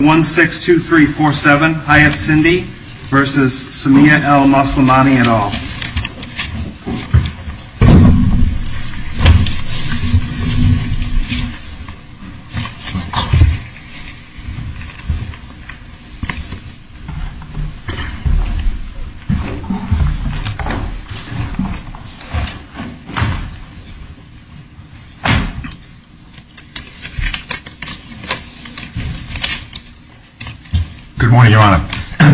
1, 6, 2, 3, 4, 7, Hayat Sindi v. Samia El-Moslimany et al. Good morning, Your Honor.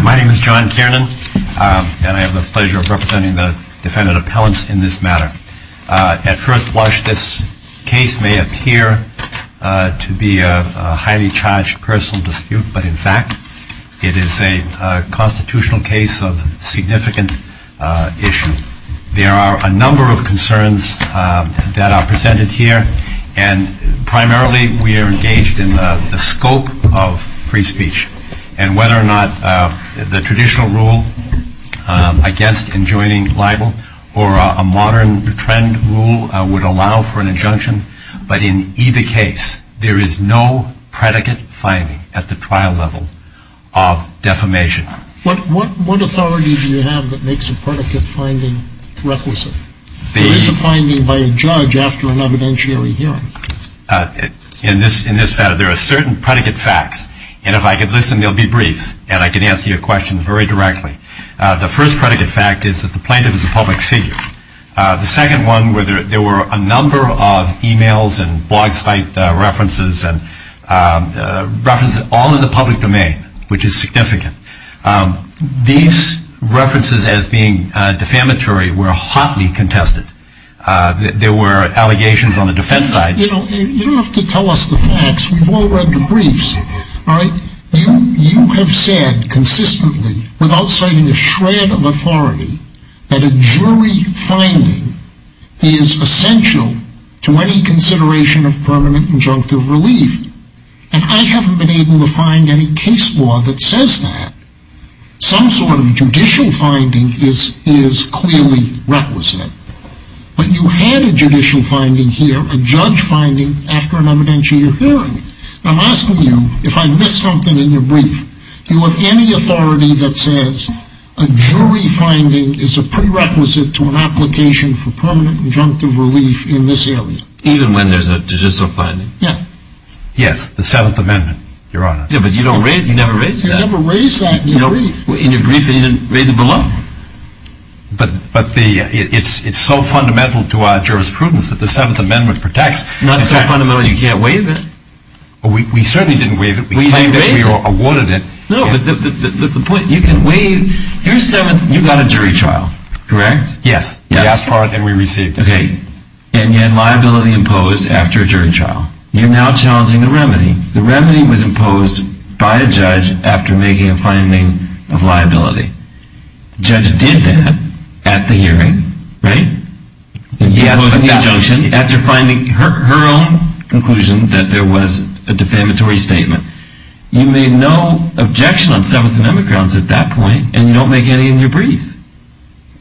My name is John Kiernan, and I have the pleasure of representing the defendant appellants in this matter. At first blush, this case may appear to be a highly charged personal dispute, but in fact it is a constitutional case of significant issue. There are a number of concerns that are presented here, and primarily we are engaged in the scope of free speech, and whether or not the traditional rule against enjoining libel or a modern trend rule would allow for an injunction. But in either case, there is no predicate finding at the trial level of defamation. What authority do you have that makes a predicate finding requisite? There is a finding by a judge after an evidentiary hearing. In this matter, there are certain predicate facts, and if I could listen, they'll be brief, and I can answer your question very directly. The first predicate fact is that the plaintiff is a public figure. The second one, there were a number of emails and blog site references, all in the public domain, which is significant. These references as being defamatory were hotly contested. There were allegations on the defense side. You don't have to tell us the facts. We've all read the briefs. You have said consistently, without citing a shred of authority, that a jury finding is essential to any consideration of permanent injunctive relief, and I haven't been able to find any case law that says that. Some sort of judicial finding is clearly requisite, but you had a judicial finding here, a judge finding, after an evidentiary hearing. I'm asking you, if I miss something in your brief, do you have any authority that says a jury finding is a prerequisite to an application for permanent injunctive relief in this area? Even when there's a judicial finding? Yeah. Yes, the Seventh Amendment, Your Honor. Yeah, but you never raised that. You never raised that in your brief. In your brief, you didn't raise it below. But it's so fundamental to our jurisprudence that the Seventh Amendment protects. Not so fundamental that you can't waive it. We certainly didn't waive it. We claimed it. We awarded it. No, but the point, you can waive. Here's Seventh. You got a jury trial, correct? Yes. We asked for it, and we received it. Okay, and you had liability imposed after a jury trial. You're now challenging the remedy. The remedy was imposed by a judge after making a finding of liability. The judge did that at the hearing, right? He asked for the injunction after finding her own conclusion that there was a defamatory statement. You made no objection on Seventh Amendment grounds at that point, and you don't make any in your brief.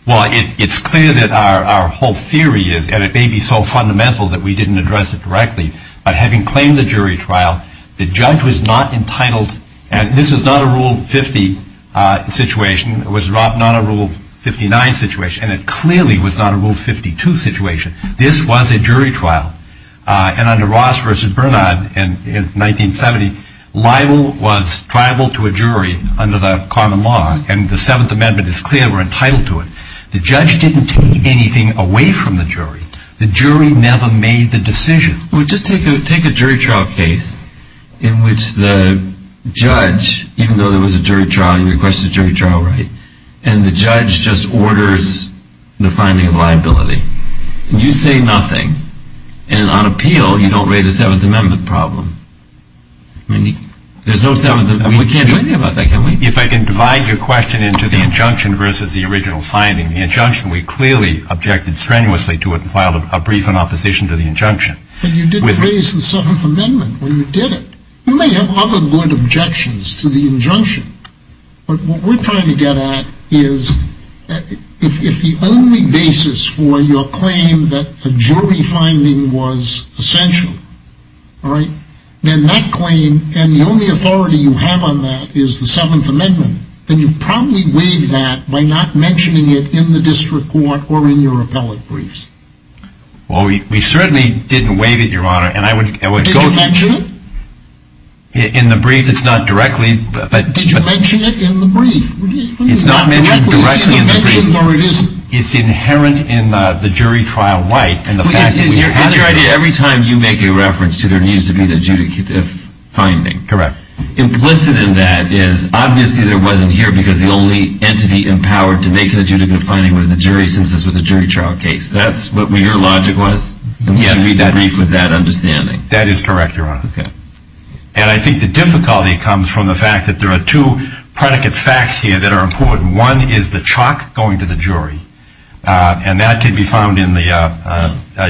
Well, it's clear that our whole theory is, and it may be so fundamental that we didn't address it directly, but having claimed the jury trial, the judge was not entitled, and this is not a Rule 50 situation. It was not a Rule 59 situation, and it clearly was not a Rule 52 situation. This was a jury trial. And under Ross v. Bernard in 1970, libel was tribal to a jury under the common law, and the Seventh Amendment is clear we're entitled to it. The judge didn't take anything away from the jury. The jury never made the decision. Well, just take a jury trial case in which the judge, even though there was a jury trial, you requested a jury trial, right? And the judge just orders the finding of liability. And you say nothing. And on appeal, you don't raise a Seventh Amendment problem. I mean, there's no Seventh Amendment. We can't do anything about that, can we? If I can divide your question into the injunction versus the original finding. The injunction, we clearly objected strenuously to it and filed a brief in opposition to the injunction. But you did raise the Seventh Amendment when you did it. You may have other good objections to the injunction, but what we're trying to get at is if the only basis for your claim that a jury finding was essential, all right, then that claim and the only authority you have on that is the Seventh Amendment, then you've probably waived that by not mentioning it in the district court or in your appellate briefs. Well, we certainly didn't waive it, Your Honor. Did you mention it? In the brief, it's not directly. Did you mention it in the brief? It's not mentioned directly in the brief. It's either mentioned or it isn't. It's inherent in the jury trial right. It's your idea every time you make a reference to there needs to be the adjudicative finding. Correct. Implicit in that is obviously there wasn't here because the only entity empowered to make an adjudicative finding was the jury since this was a jury trial case. That's what your logic was? Yes. And you should read the brief with that understanding. That is correct, Your Honor. Okay. And I think the difficulty comes from the fact that there are two predicate facts here that are important. One is the chalk going to the jury, and that can be found in the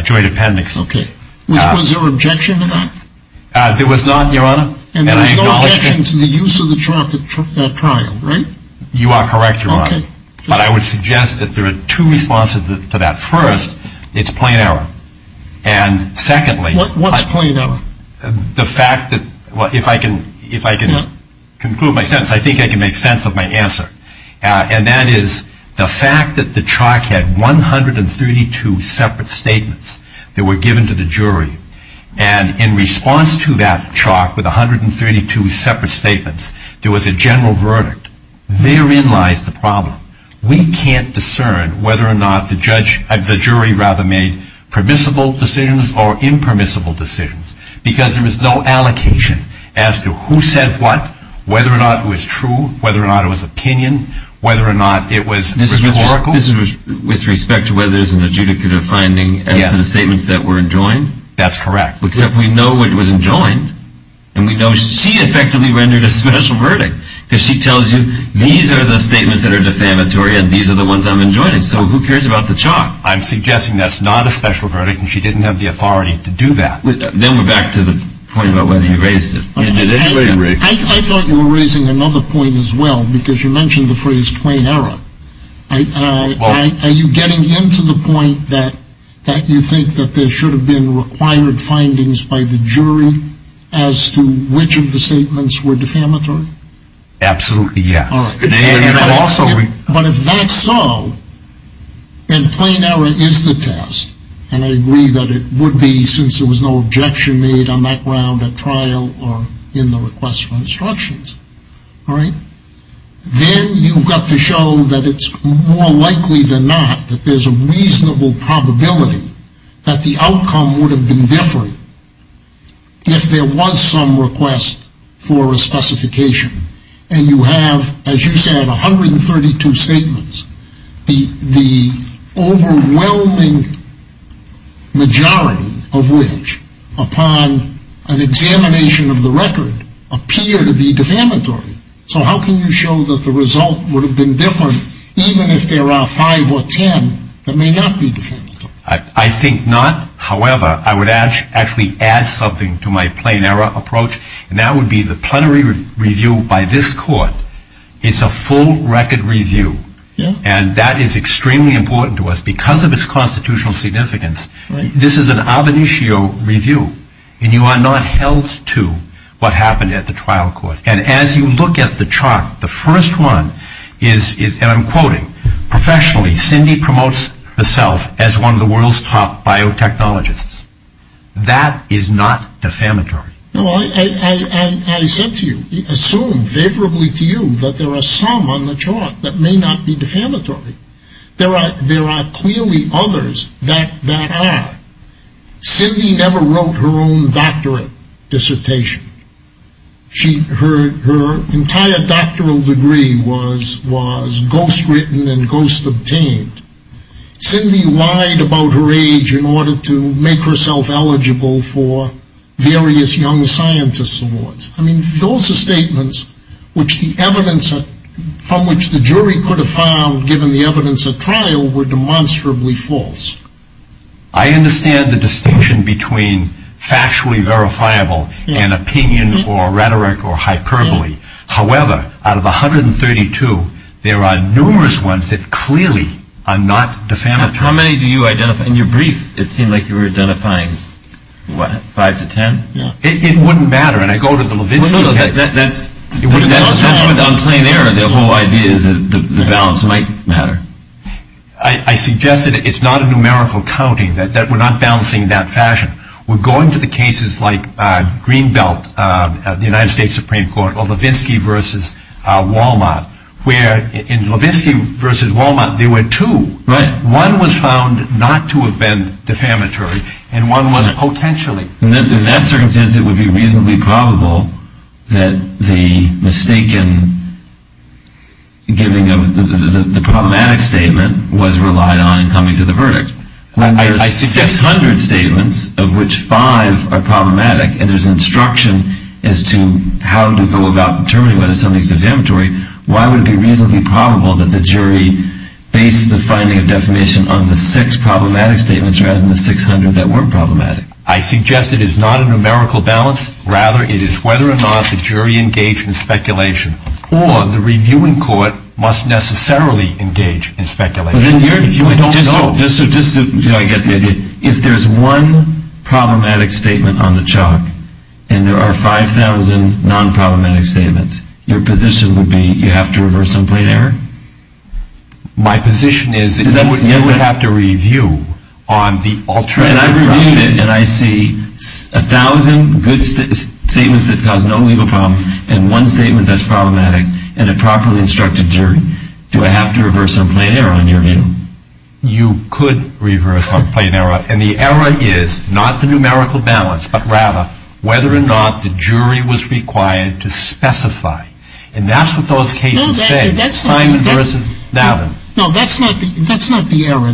joint appendix. Okay. Was there objection to that? There was not, Your Honor. And there was no objection to the use of the chalk at trial, right? You are correct, Your Honor. Okay. But I would suggest that there are two responses to that. First, it's plain error. And secondly, What's plain error? The fact that, well, if I can conclude my sentence, I think I can make sense of my answer. And that is the fact that the chalk had 132 separate statements that were given to the jury. And in response to that chalk with 132 separate statements, there was a general verdict. Therein lies the problem. We can't discern whether or not the jury rather made permissible decisions or impermissible decisions because there was no allocation as to who said what, whether or not it was true, whether or not it was opinion, whether or not it was rhetorical. This is with respect to whether there's an adjudicative finding as to the statements that were enjoined? That's correct. Except we know it was enjoined, and we know she effectively rendered a special verdict because she tells you these are the statements that are defamatory and these are the ones I'm enjoining. So who cares about the chalk? I'm suggesting that's not a special verdict, and she didn't have the authority to do that. Then we're back to the point about whether you raised it. I thought you were raising another point as well because you mentioned the phrase plain error. Are you getting into the point that you think that there should have been required findings by the jury as to which of the statements were defamatory? Absolutely, yes. But if that's so, then plain error is the test, and I agree that it would be since there was no objection made on that ground at trial or in the request for instructions. Then you've got to show that it's more likely than not that there's a reasonable probability that the outcome would have been different if there was some request for a specification. And you have, as you said, 132 statements, the overwhelming majority of which, upon an examination of the record, appear to be defamatory. So how can you show that the result would have been different even if there are 5 or 10 that may not be defamatory? I think not. However, I would actually add something to my plain error approach, and that would be the plenary review by this court. It's a full record review. And that is extremely important to us because of its constitutional significance. This is an ab initio review, and you are not held to what happened at the trial court. And as you look at the chart, the first one is, and I'm quoting, professionally, Cindy promotes herself as one of the world's top biotechnologists. That is not defamatory. No, I said to you, assumed favorably to you that there are some on the chart that may not be defamatory. There are clearly others that are. Cindy never wrote her own doctorate dissertation. Her entire doctoral degree was ghost written and ghost obtained. Cindy lied about her age in order to make herself eligible for various young scientist awards. I mean, those are statements from which the jury could have found, given the evidence at trial, were demonstrably false. I understand the distinction between factually verifiable and opinion or rhetoric or hyperbole. However, out of 132, there are numerous ones that clearly are not defamatory. How many do you identify? In your brief, it seemed like you were identifying five to ten. It wouldn't matter. And I go to the Levinsky case. On plain error, the whole idea is that the balance might matter. I suggest that it's not a numerical counting, that we're not balancing in that fashion. We're going to the cases like Greenbelt, the United States Supreme Court, or Levinsky versus Wal-Mart, where in Levinsky versus Wal-Mart, there were two. One was found not to have been defamatory, and one was potentially. In that circumstance, it would be reasonably probable that the problematic statement was relied on in coming to the verdict. When there's 600 statements, of which five are problematic, and there's instruction as to how to go about determining whether something's defamatory, why would it be reasonably probable that the jury based the finding of defamation on the six problematic statements rather than the 600 that weren't problematic? I suggest it is not a numerical balance. Rather, it is whether or not the jury engaged in speculation, or the reviewing court must necessarily engage in speculation. Did I get the idea? If there's one problematic statement on the chalk, and there are 5,000 non-problematic statements, your position would be you have to reverse some plain error? My position is that you would have to review on the alternative ground. And I reviewed it, and I see 1,000 good statements that cause no legal problem, and one statement that's problematic, and a properly instructed jury. Do I have to reverse some plain error in your view? You could reverse some plain error, and the error is not the numerical balance, but rather whether or not the jury was required to specify. And that's what those cases say, Simon versus Navin. No, that's not the error.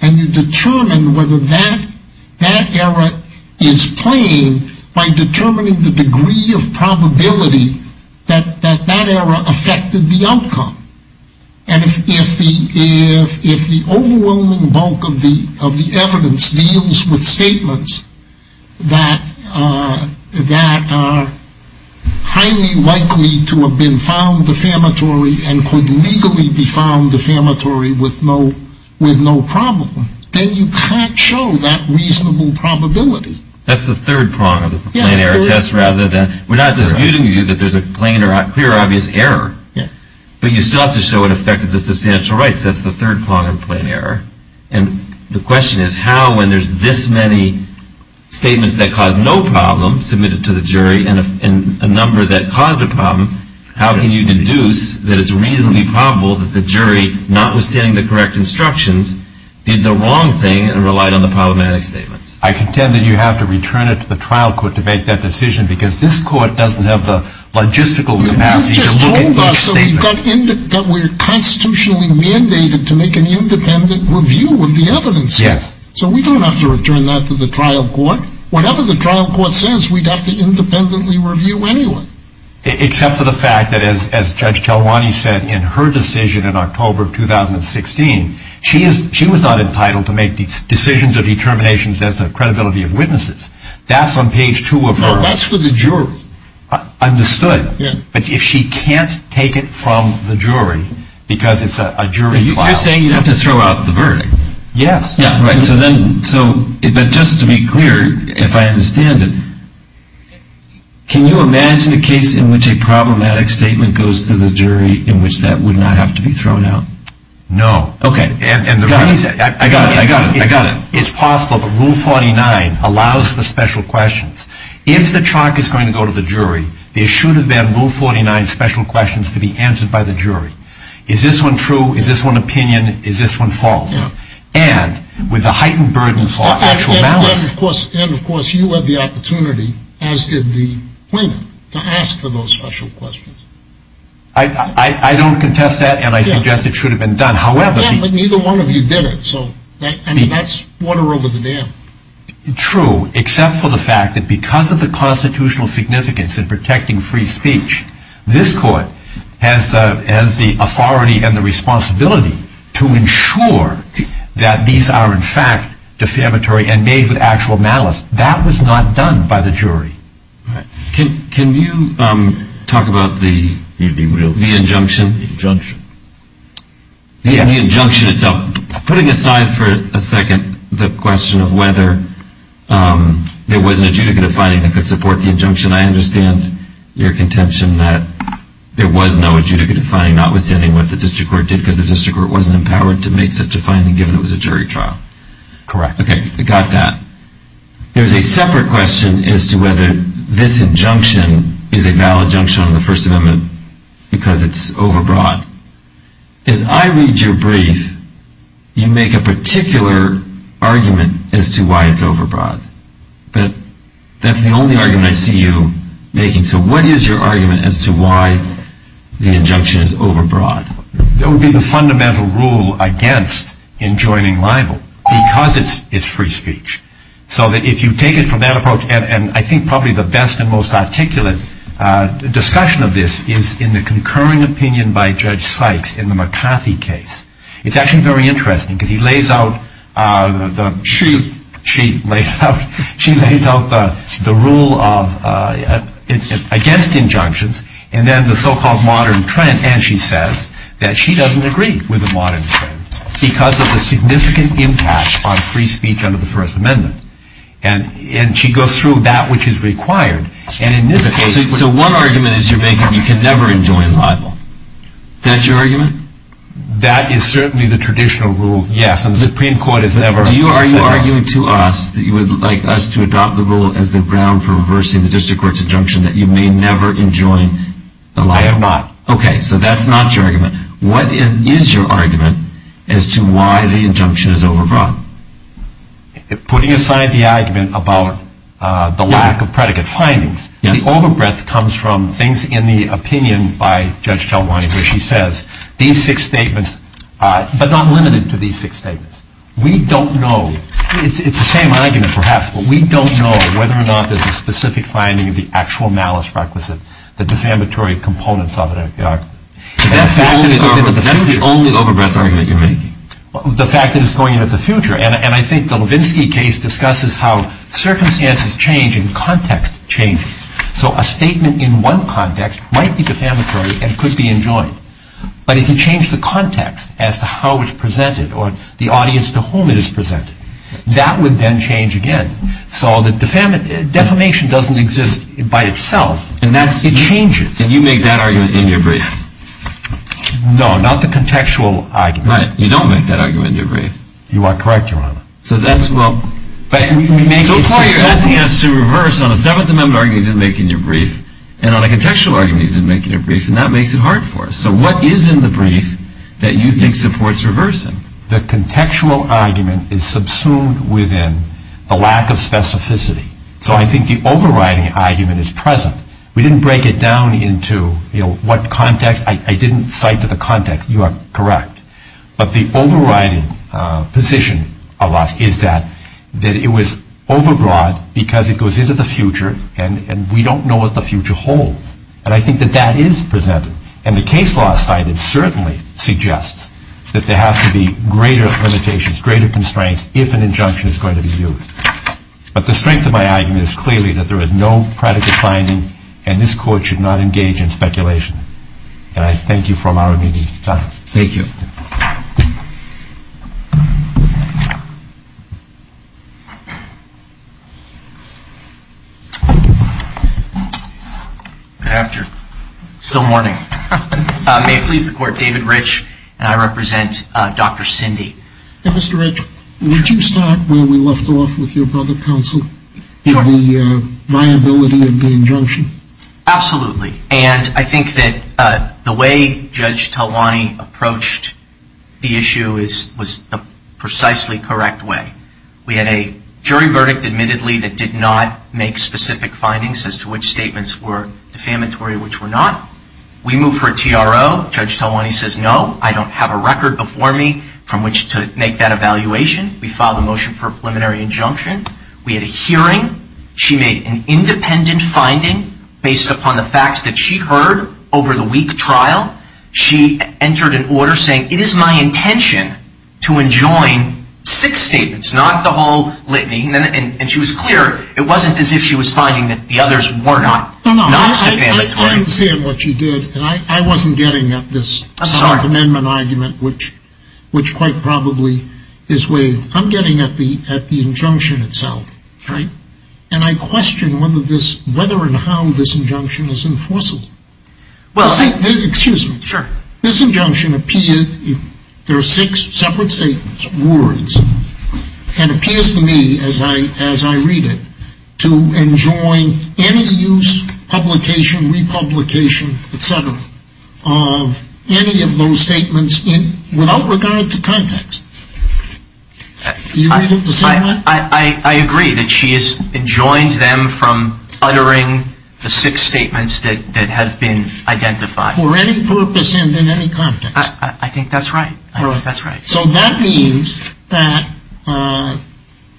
And you determine whether that error is plain by determining the degree of probability that that error affected the outcome. And if the overwhelming bulk of the evidence deals with statements that are highly likely to have been found defamatory and could legally be found defamatory with no problem, then you can't show that reasonable probability. That's the third prong of the plain error test. We're not disputing with you that there's a clear, obvious error, but you still have to show it affected the substantial rights. That's the third prong of plain error. And the question is how, when there's this many statements that cause no problem submitted to the jury and a number that caused a problem, how can you deduce that it's reasonably probable that the jury, notwithstanding the correct instructions, did the wrong thing and relied on the problematic statements? I contend that you have to return it to the trial court to make that decision, because this court doesn't have the logistical capacity to look at those statements. You've just told us that we're constitutionally mandated to make an independent review of the evidence. Yes. So we don't have to return that to the trial court. Whatever the trial court says, we'd have to independently review anyway. Except for the fact that, as Judge Talwani said in her decision in October of 2016, she was not entitled to make decisions or determinations as to the credibility of witnesses. That's on page two of her. No, that's for the jury. Understood. Yeah. But if she can't take it from the jury, because it's a jury file. You're saying you'd have to throw out the verdict. Yes. But just to be clear, if I understand it, can you imagine a case in which a problematic statement goes to the jury in which that would not have to be thrown out? No. Okay. I got it. I got it. It's possible, but Rule 49 allows for special questions. If the charge is going to go to the jury, there should have been Rule 49 special questions to be answered by the jury. Is this one true? Is this one opinion? Is this one false? And with a heightened burden for actual malice. And, of course, you had the opportunity, as did the plaintiff, to ask for those special questions. I don't contest that, and I suggest it should have been done. Yeah, but neither one of you did it, so that's water over the dam. True, except for the fact that because of the constitutional significance in protecting free speech, this court has the authority and the responsibility to ensure that these are, in fact, defamatory and made with actual malice. That was not done by the jury. Can you talk about the injunction? The injunction. The injunction itself. Putting aside for a second the question of whether there was an adjudicative finding that could support the injunction, I understand your contention that there was no adjudicative finding, notwithstanding what the district court did, because the district court wasn't empowered to make such a finding given it was a jury trial. Correct. Okay, I got that. There's a separate question as to whether this injunction is a valid injunction of the First Amendment because it's overbroad. As I read your brief, you make a particular argument as to why it's overbroad. But that's the only argument I see you making. So what is your argument as to why the injunction is overbroad? That would be the fundamental rule against enjoining libel because it's free speech. So if you take it from that approach, and I think probably the best and most articulate discussion of this is in the concurring opinion by Judge Sykes in the McCarthy case. It's actually very interesting because she lays out the rule against injunctions and then the so-called modern trend, and she says that she doesn't agree with the modern trend because of the significant impact on free speech under the First Amendment. And she goes through that which is required. So one argument is you're making you can never enjoin libel. Is that your argument? That is certainly the traditional rule. Yes, and the Supreme Court has never said that. Do you argue to us that you would like us to adopt the rule as the ground for reversing the district court's injunction that you may never enjoin libel? I have not. Okay, so that's not your argument. What is your argument as to why the injunction is overbroad? Putting aside the argument about the lack of predicate findings, the overbreadth comes from things in the opinion by Judge Talwani where she says these six statements are not limited to these six statements. We don't know. It's the same argument, perhaps, but we don't know whether or not there's a specific finding of the actual malice requisite, the defamatory components of the argument. That's the only overbreadth argument you're making? The fact that it's going into the future. And I think the Levinsky case discusses how circumstances change and context changes. So a statement in one context might be defamatory and could be enjoined, but if you change the context as to how it's presented or the audience to whom it is presented, that would then change again. So defamation doesn't exist by itself. It changes. And you make that argument in your brief? No, not the contextual argument. Right. You don't make that argument in your brief. You are correct, Your Honor. So that's, well, you're suggesting us to reverse on a Seventh Amendment argument you didn't make in your brief and on a contextual argument you didn't make in your brief, and that makes it hard for us. So what is in the brief that you think supports reversing? The contextual argument is subsumed within the lack of specificity. So I think the overriding argument is present. We didn't break it down into, you know, what context. I didn't cite the context. You are correct. But the overriding position of us is that it was overbroad because it goes into the future, and we don't know what the future holds. And I think that that is presented. And the case law cited certainly suggests that there has to be greater limitations, greater constraints if an injunction is going to be used. But the strength of my argument is clearly that there is no predicate finding, and this Court should not engage in speculation. And I thank you for allowing me the time. Thank you. Good afternoon. Still morning. May it please the Court, David Rich, and I represent Dr. Cindy. Mr. Rich, would you start where we left off with your brother, Counsel, in the viability of the injunction? Absolutely. And I think that the way Judge Talwani approached the issue was the precisely correct way. We had a jury verdict, admittedly, that did not make specific findings as to which statements were defamatory and which were not. We moved for a TRO. Judge Talwani says, no, I don't have a record before me from which to make that evaluation. We filed a motion for a preliminary injunction. We had a hearing. She made an independent finding based upon the facts that she heard over the week trial. She entered an order saying, it is my intention to enjoin six statements, not the whole litany. And she was clear, it wasn't as if she was finding that the others were not defamatory. I understand what you did, and I wasn't getting at this self-amendment argument, which quite probably is waived. I'm getting at the injunction itself, right? And I question whether and how this injunction is enforceable. Excuse me. Sure. This injunction appears, there are six separate statements, words, and it appears to me as I read it to enjoin any use, publication, republication, et cetera, of any of those statements without regard to context. You read it the same way? I agree that she has enjoined them from uttering the six statements that have been identified. For any purpose and in any context. I think that's right. So that means that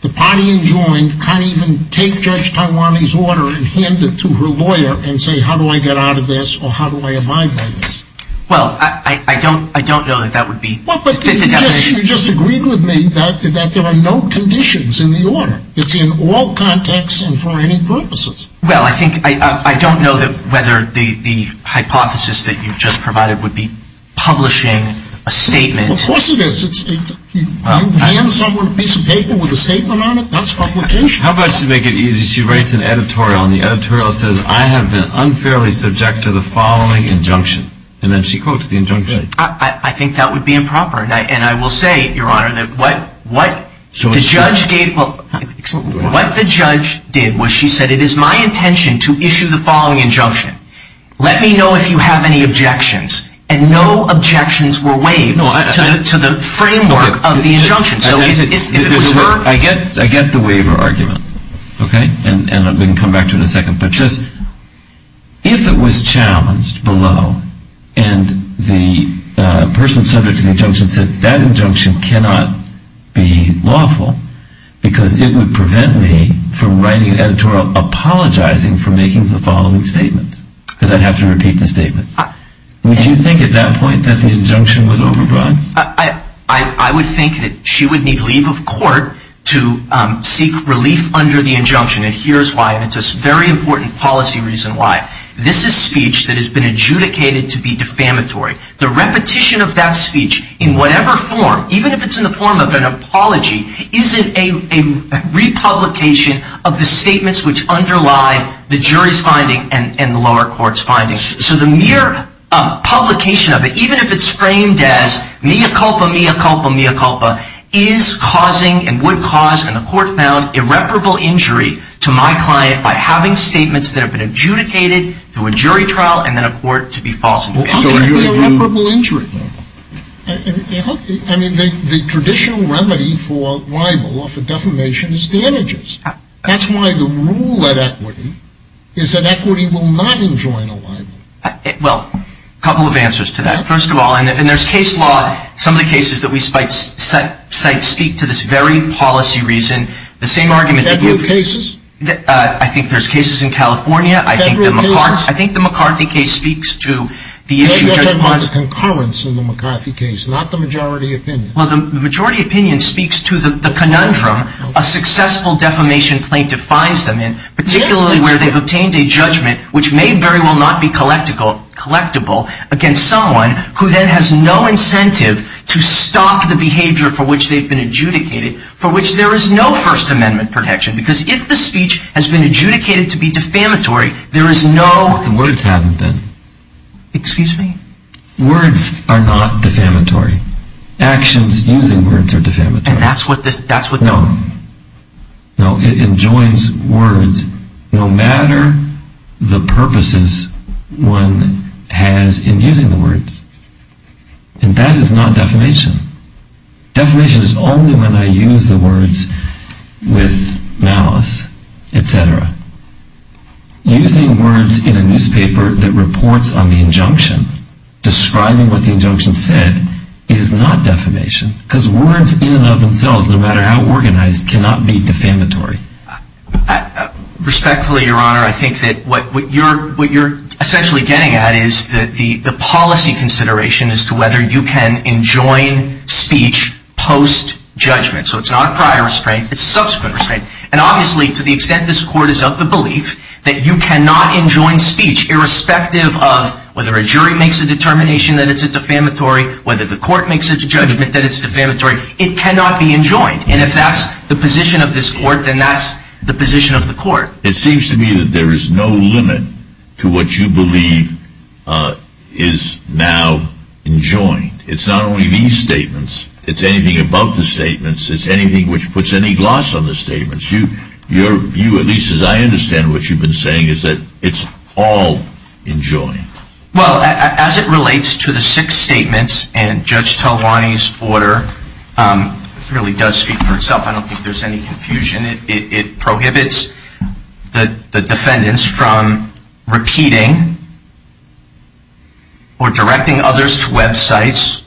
the party enjoined can't even take Judge Tawani's order and hand it to her lawyer and say, how do I get out of this or how do I abide by this? Well, I don't know that that would be the definition. You just agreed with me that there are no conditions in the order. It's in all contexts and for any purposes. Well, I think I don't know whether the hypothesis that you've just provided would be publishing a statement. Of course it is. You hand someone a piece of paper with a statement on it, that's publication. How about she writes an editorial and the editorial says, I have been unfairly subject to the following injunction. And then she quotes the injunction. I think that would be improper. And I will say, Your Honor, that what the judge did was she said, it is my intention to issue the following injunction. Let me know if you have any objections. And no objections were waived to the framework of the injunction. I get the waiver argument. And I'm going to come back to it in a second. But just if it was challenged below and the person subject to the injunction said, that injunction cannot be lawful because it would prevent me from writing an editorial apologizing for making the following statement. Because I'd have to repeat the statement. Would you think at that point that the injunction was overrun? I would think that she would need leave of court to seek relief under the injunction. And here's why. And it's a very important policy reason why. This is speech that has been adjudicated to be defamatory. The repetition of that speech in whatever form, even if it's in the form of an apology, isn't a republication of the statements which underlie the jury's finding and the lower court's finding. So the mere publication of it, even if it's framed as mea culpa, mea culpa, mea culpa, is causing and would cause, and the court found, irreparable injury to my client by having statements that have been adjudicated through a jury trial and then a court to be false. How can that be irreparable injury? I mean, the traditional remedy for libel or for defamation is damages. That's why the rule at Equity is that Equity will not enjoin a libel. Well, a couple of answers to that. First of all, and there's case law. Some of the cases that we cite speak to this very policy reason. The same argument that you have. Federal cases? I think there's cases in California. Federal cases? I think the McCarthy case speaks to the issue. No, you're talking about the concurrence in the McCarthy case, not the majority opinion. Well, the majority opinion speaks to the conundrum a successful defamation plaintiff finds them in, particularly where they've obtained a judgment, which may very well not be collectible, against someone who then has no incentive to stop the behavior for which they've been adjudicated, for which there is no First Amendment protection. Because if the speech has been adjudicated to be defamatory, there is no... But the words haven't been. Excuse me? Words are not defamatory. Actions using words are defamatory. And that's what this... No. No, it enjoins words no matter the purposes one has in using the words. And that is not defamation. Defamation is only when I use the words with malice, et cetera. Using words in a newspaper that reports on the injunction, describing what the injunction said, is not defamation. Because words in and of themselves, no matter how organized, cannot be defamatory. Respectfully, Your Honor, I think that what you're essentially getting at is the policy consideration as to whether you can enjoin speech post-judgment. So it's not a prior restraint, it's a subsequent restraint. And obviously, to the extent this Court is of the belief that you cannot enjoin speech irrespective of whether a jury makes a determination that it's defamatory, whether the Court makes a judgment that it's defamatory, it cannot be enjoined. And if that's the position of this Court, then that's the position of the Court. It seems to me that there is no limit to what you believe is now enjoined. It's not only these statements. It's anything about the statements. It's anything which puts any gloss on the statements. Your view, at least as I understand what you've been saying, is that it's all enjoined. Well, as it relates to the six statements and Judge Talwani's order, it really does speak for itself. I don't think there's any confusion. It prohibits the defendants from repeating or directing others to websites,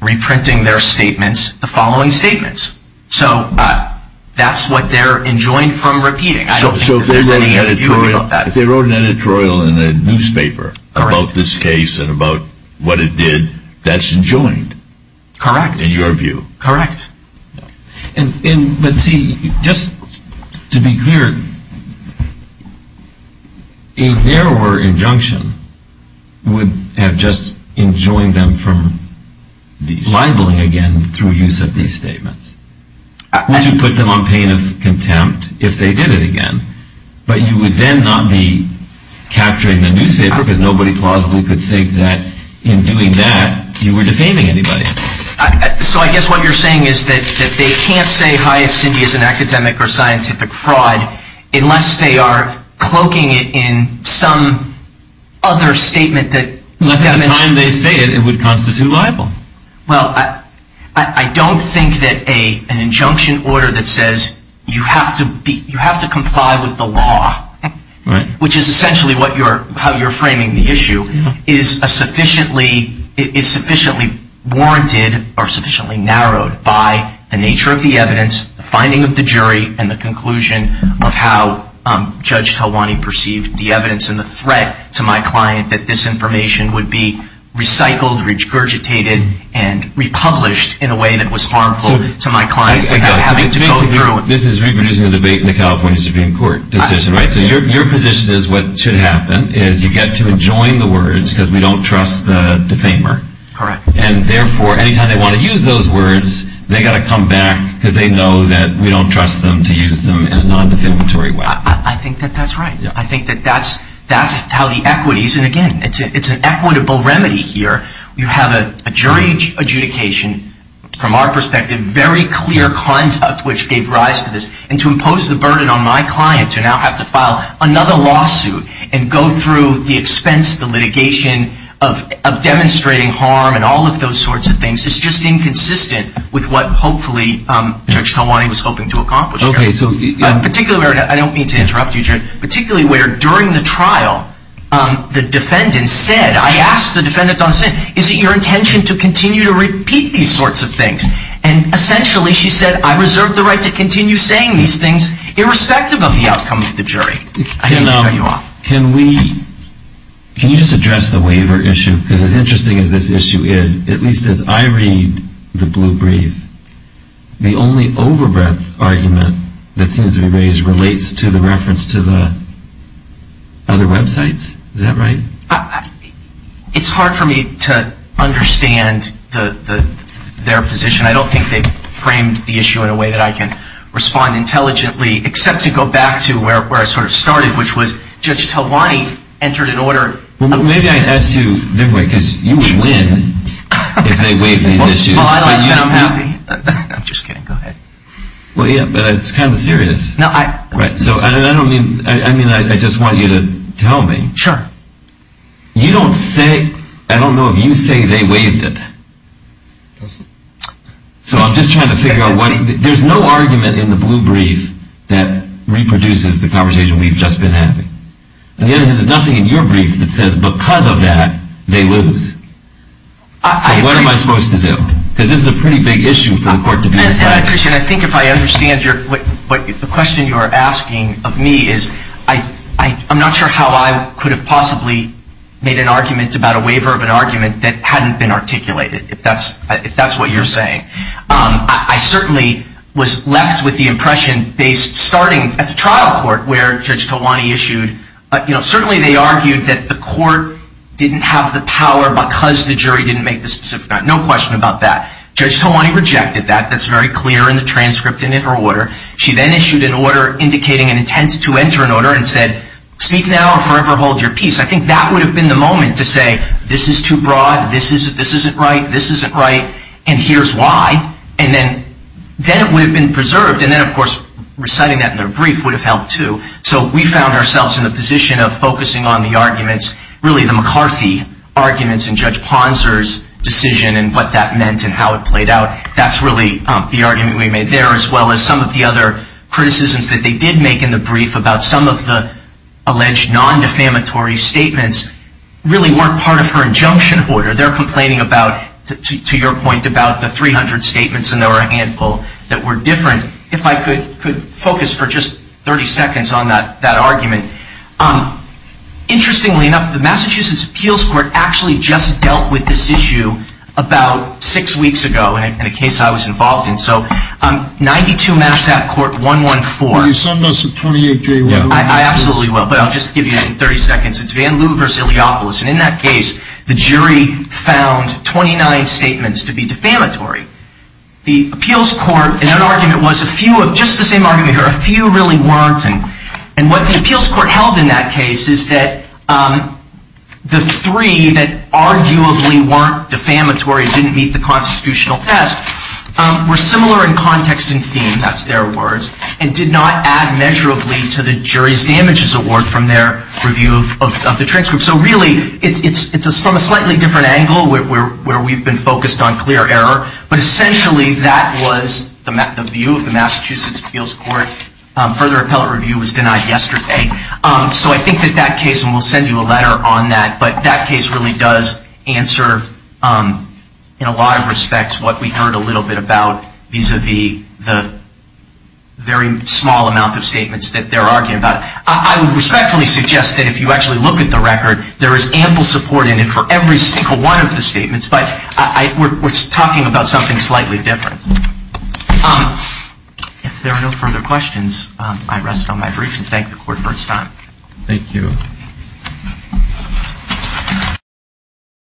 reprinting their statements, the following statements. So that's what they're enjoined from repeating. So if they wrote an editorial in the newspaper about this case and about what it did, Correct. But see, just to be clear, a narrower injunction would have just enjoined them from libeling again through use of these statements. Would you put them on pain of contempt if they did it again? But you would then not be capturing the newspaper because nobody plausibly could think that in doing that you were defaming anybody. So I guess what you're saying is that they can't say Hyatt Cindy is an academic or scientific fraud unless they are cloaking it in some other statement that Unless at the time they say it, it would constitute libel. Well, I don't think that an injunction order that says you have to comply with the law, which is essentially how you're framing the issue, is sufficiently warranted or sufficiently narrowed by the nature of the evidence, the finding of the jury, and the conclusion of how Judge Talwani perceived the evidence and the threat to my client that this information would be recycled, regurgitated, and republished in a way that was harmful to my client without having to go through This is reproducing the debate in the California Supreme Court decision, right? So your position is what should happen is you get to adjoin the words because we don't trust the defamer. Correct. And therefore, anytime they want to use those words, they've got to come back because they know that we don't trust them to use them in a non-defamatory way. I think that that's right. I think that that's how the equities, and again, it's an equitable remedy here. You have a jury adjudication from our perspective, very clear conduct, which gave rise to this. And to impose the burden on my client to now have to file another lawsuit and go through the expense, the litigation of demonstrating harm and all of those sorts of things is just inconsistent with what hopefully Judge Talwani was hoping to accomplish here. Okay. Particularly where, and I don't mean to interrupt you, particularly where during the trial the defendant said, I asked the defendant on the scene, is it your intention to continue to repeat these sorts of things? And essentially she said, I reserve the right to continue saying these things irrespective of the outcome of the jury. I hate to cut you off. Can we, can you just address the waiver issue? Because as interesting as this issue is, at least as I read the blue brief, the only over-breath argument that seems to be raised relates to the reference to the other websites. Is that right? It's hard for me to understand their position. I don't think they framed the issue in a way that I can respond intelligently, except to go back to where I sort of started, which was Judge Talwani entered an order. Well, maybe I asked you, because you would win if they waived these issues. Well, I'm happy. I'm just kidding. Go ahead. Well, yeah, but it's kind of serious. Right. So I don't mean, I mean, I just want you to tell me. Sure. You don't say, I don't know if you say they waived it. No, sir. So I'm just trying to figure out what, there's no argument in the blue brief that reproduces the conversation we've just been having. And yet there's nothing in your brief that says because of that, they lose. So what am I supposed to do? Because this is a pretty big issue for the court to be deciding. And, Christian, I think if I understand your, the question you are asking of me is, I'm not sure how I could have possibly made an argument about a waiver of an argument that hadn't been articulated, if that's what you're saying. I certainly was left with the impression, starting at the trial court where Judge Talwani issued, certainly they argued that the court didn't have the power because the jury didn't make the specific, no question about that. Judge Talwani rejected that. That's very clear in the transcript and in her order. She then issued an order indicating an intent to enter an order and said, speak now or forever hold your peace. I think that would have been the moment to say, this is too broad. This isn't right. This isn't right. And here's why. And then it would have been preserved. And then, of course, reciting that in the brief would have helped too. So we found ourselves in the position of focusing on the arguments, really the McCarthy arguments and Judge Ponser's decision and what that meant and how it played out. That's really the argument we made there as well as some of the other criticisms that they did make in the brief about some of the alleged non-defamatory statements really weren't part of her injunction order. They're complaining about, to your point, about the 300 statements, and there were a handful that were different. If I could focus for just 30 seconds on that argument. Interestingly enough, the Massachusetts Appeals Court actually just dealt with this issue about six weeks ago in a case I was involved in. So 92 Mass. App. Court 114. You summed us at 28J1. I absolutely will. But I'll just give you 30 seconds. It's Van Loo versus Iliopoulos. And in that case, the jury found 29 statements to be defamatory. The Appeals Court, in an argument, was a few of just the same argument. A few really weren't. And what the Appeals Court held in that case is that the three that argue arguably weren't defamatory, didn't meet the constitutional test, were similar in context and theme. That's their words. And did not add measurably to the jury's damages award from their review of the transcript. So really, it's from a slightly different angle where we've been focused on clear error. But essentially, that was the view of the Massachusetts Appeals Court. Further appellate review was denied yesterday. So I think that that case, and we'll send you a letter on that, but that case really does answer, in a lot of respects, what we heard a little bit about vis-à-vis the very small amount of statements that they're arguing about. I would respectfully suggest that if you actually look at the record, there is ample support in it for every single one of the statements. But we're talking about something slightly different. If there are no further questions, I rest on my brief and thank the Court for its time. Thank you.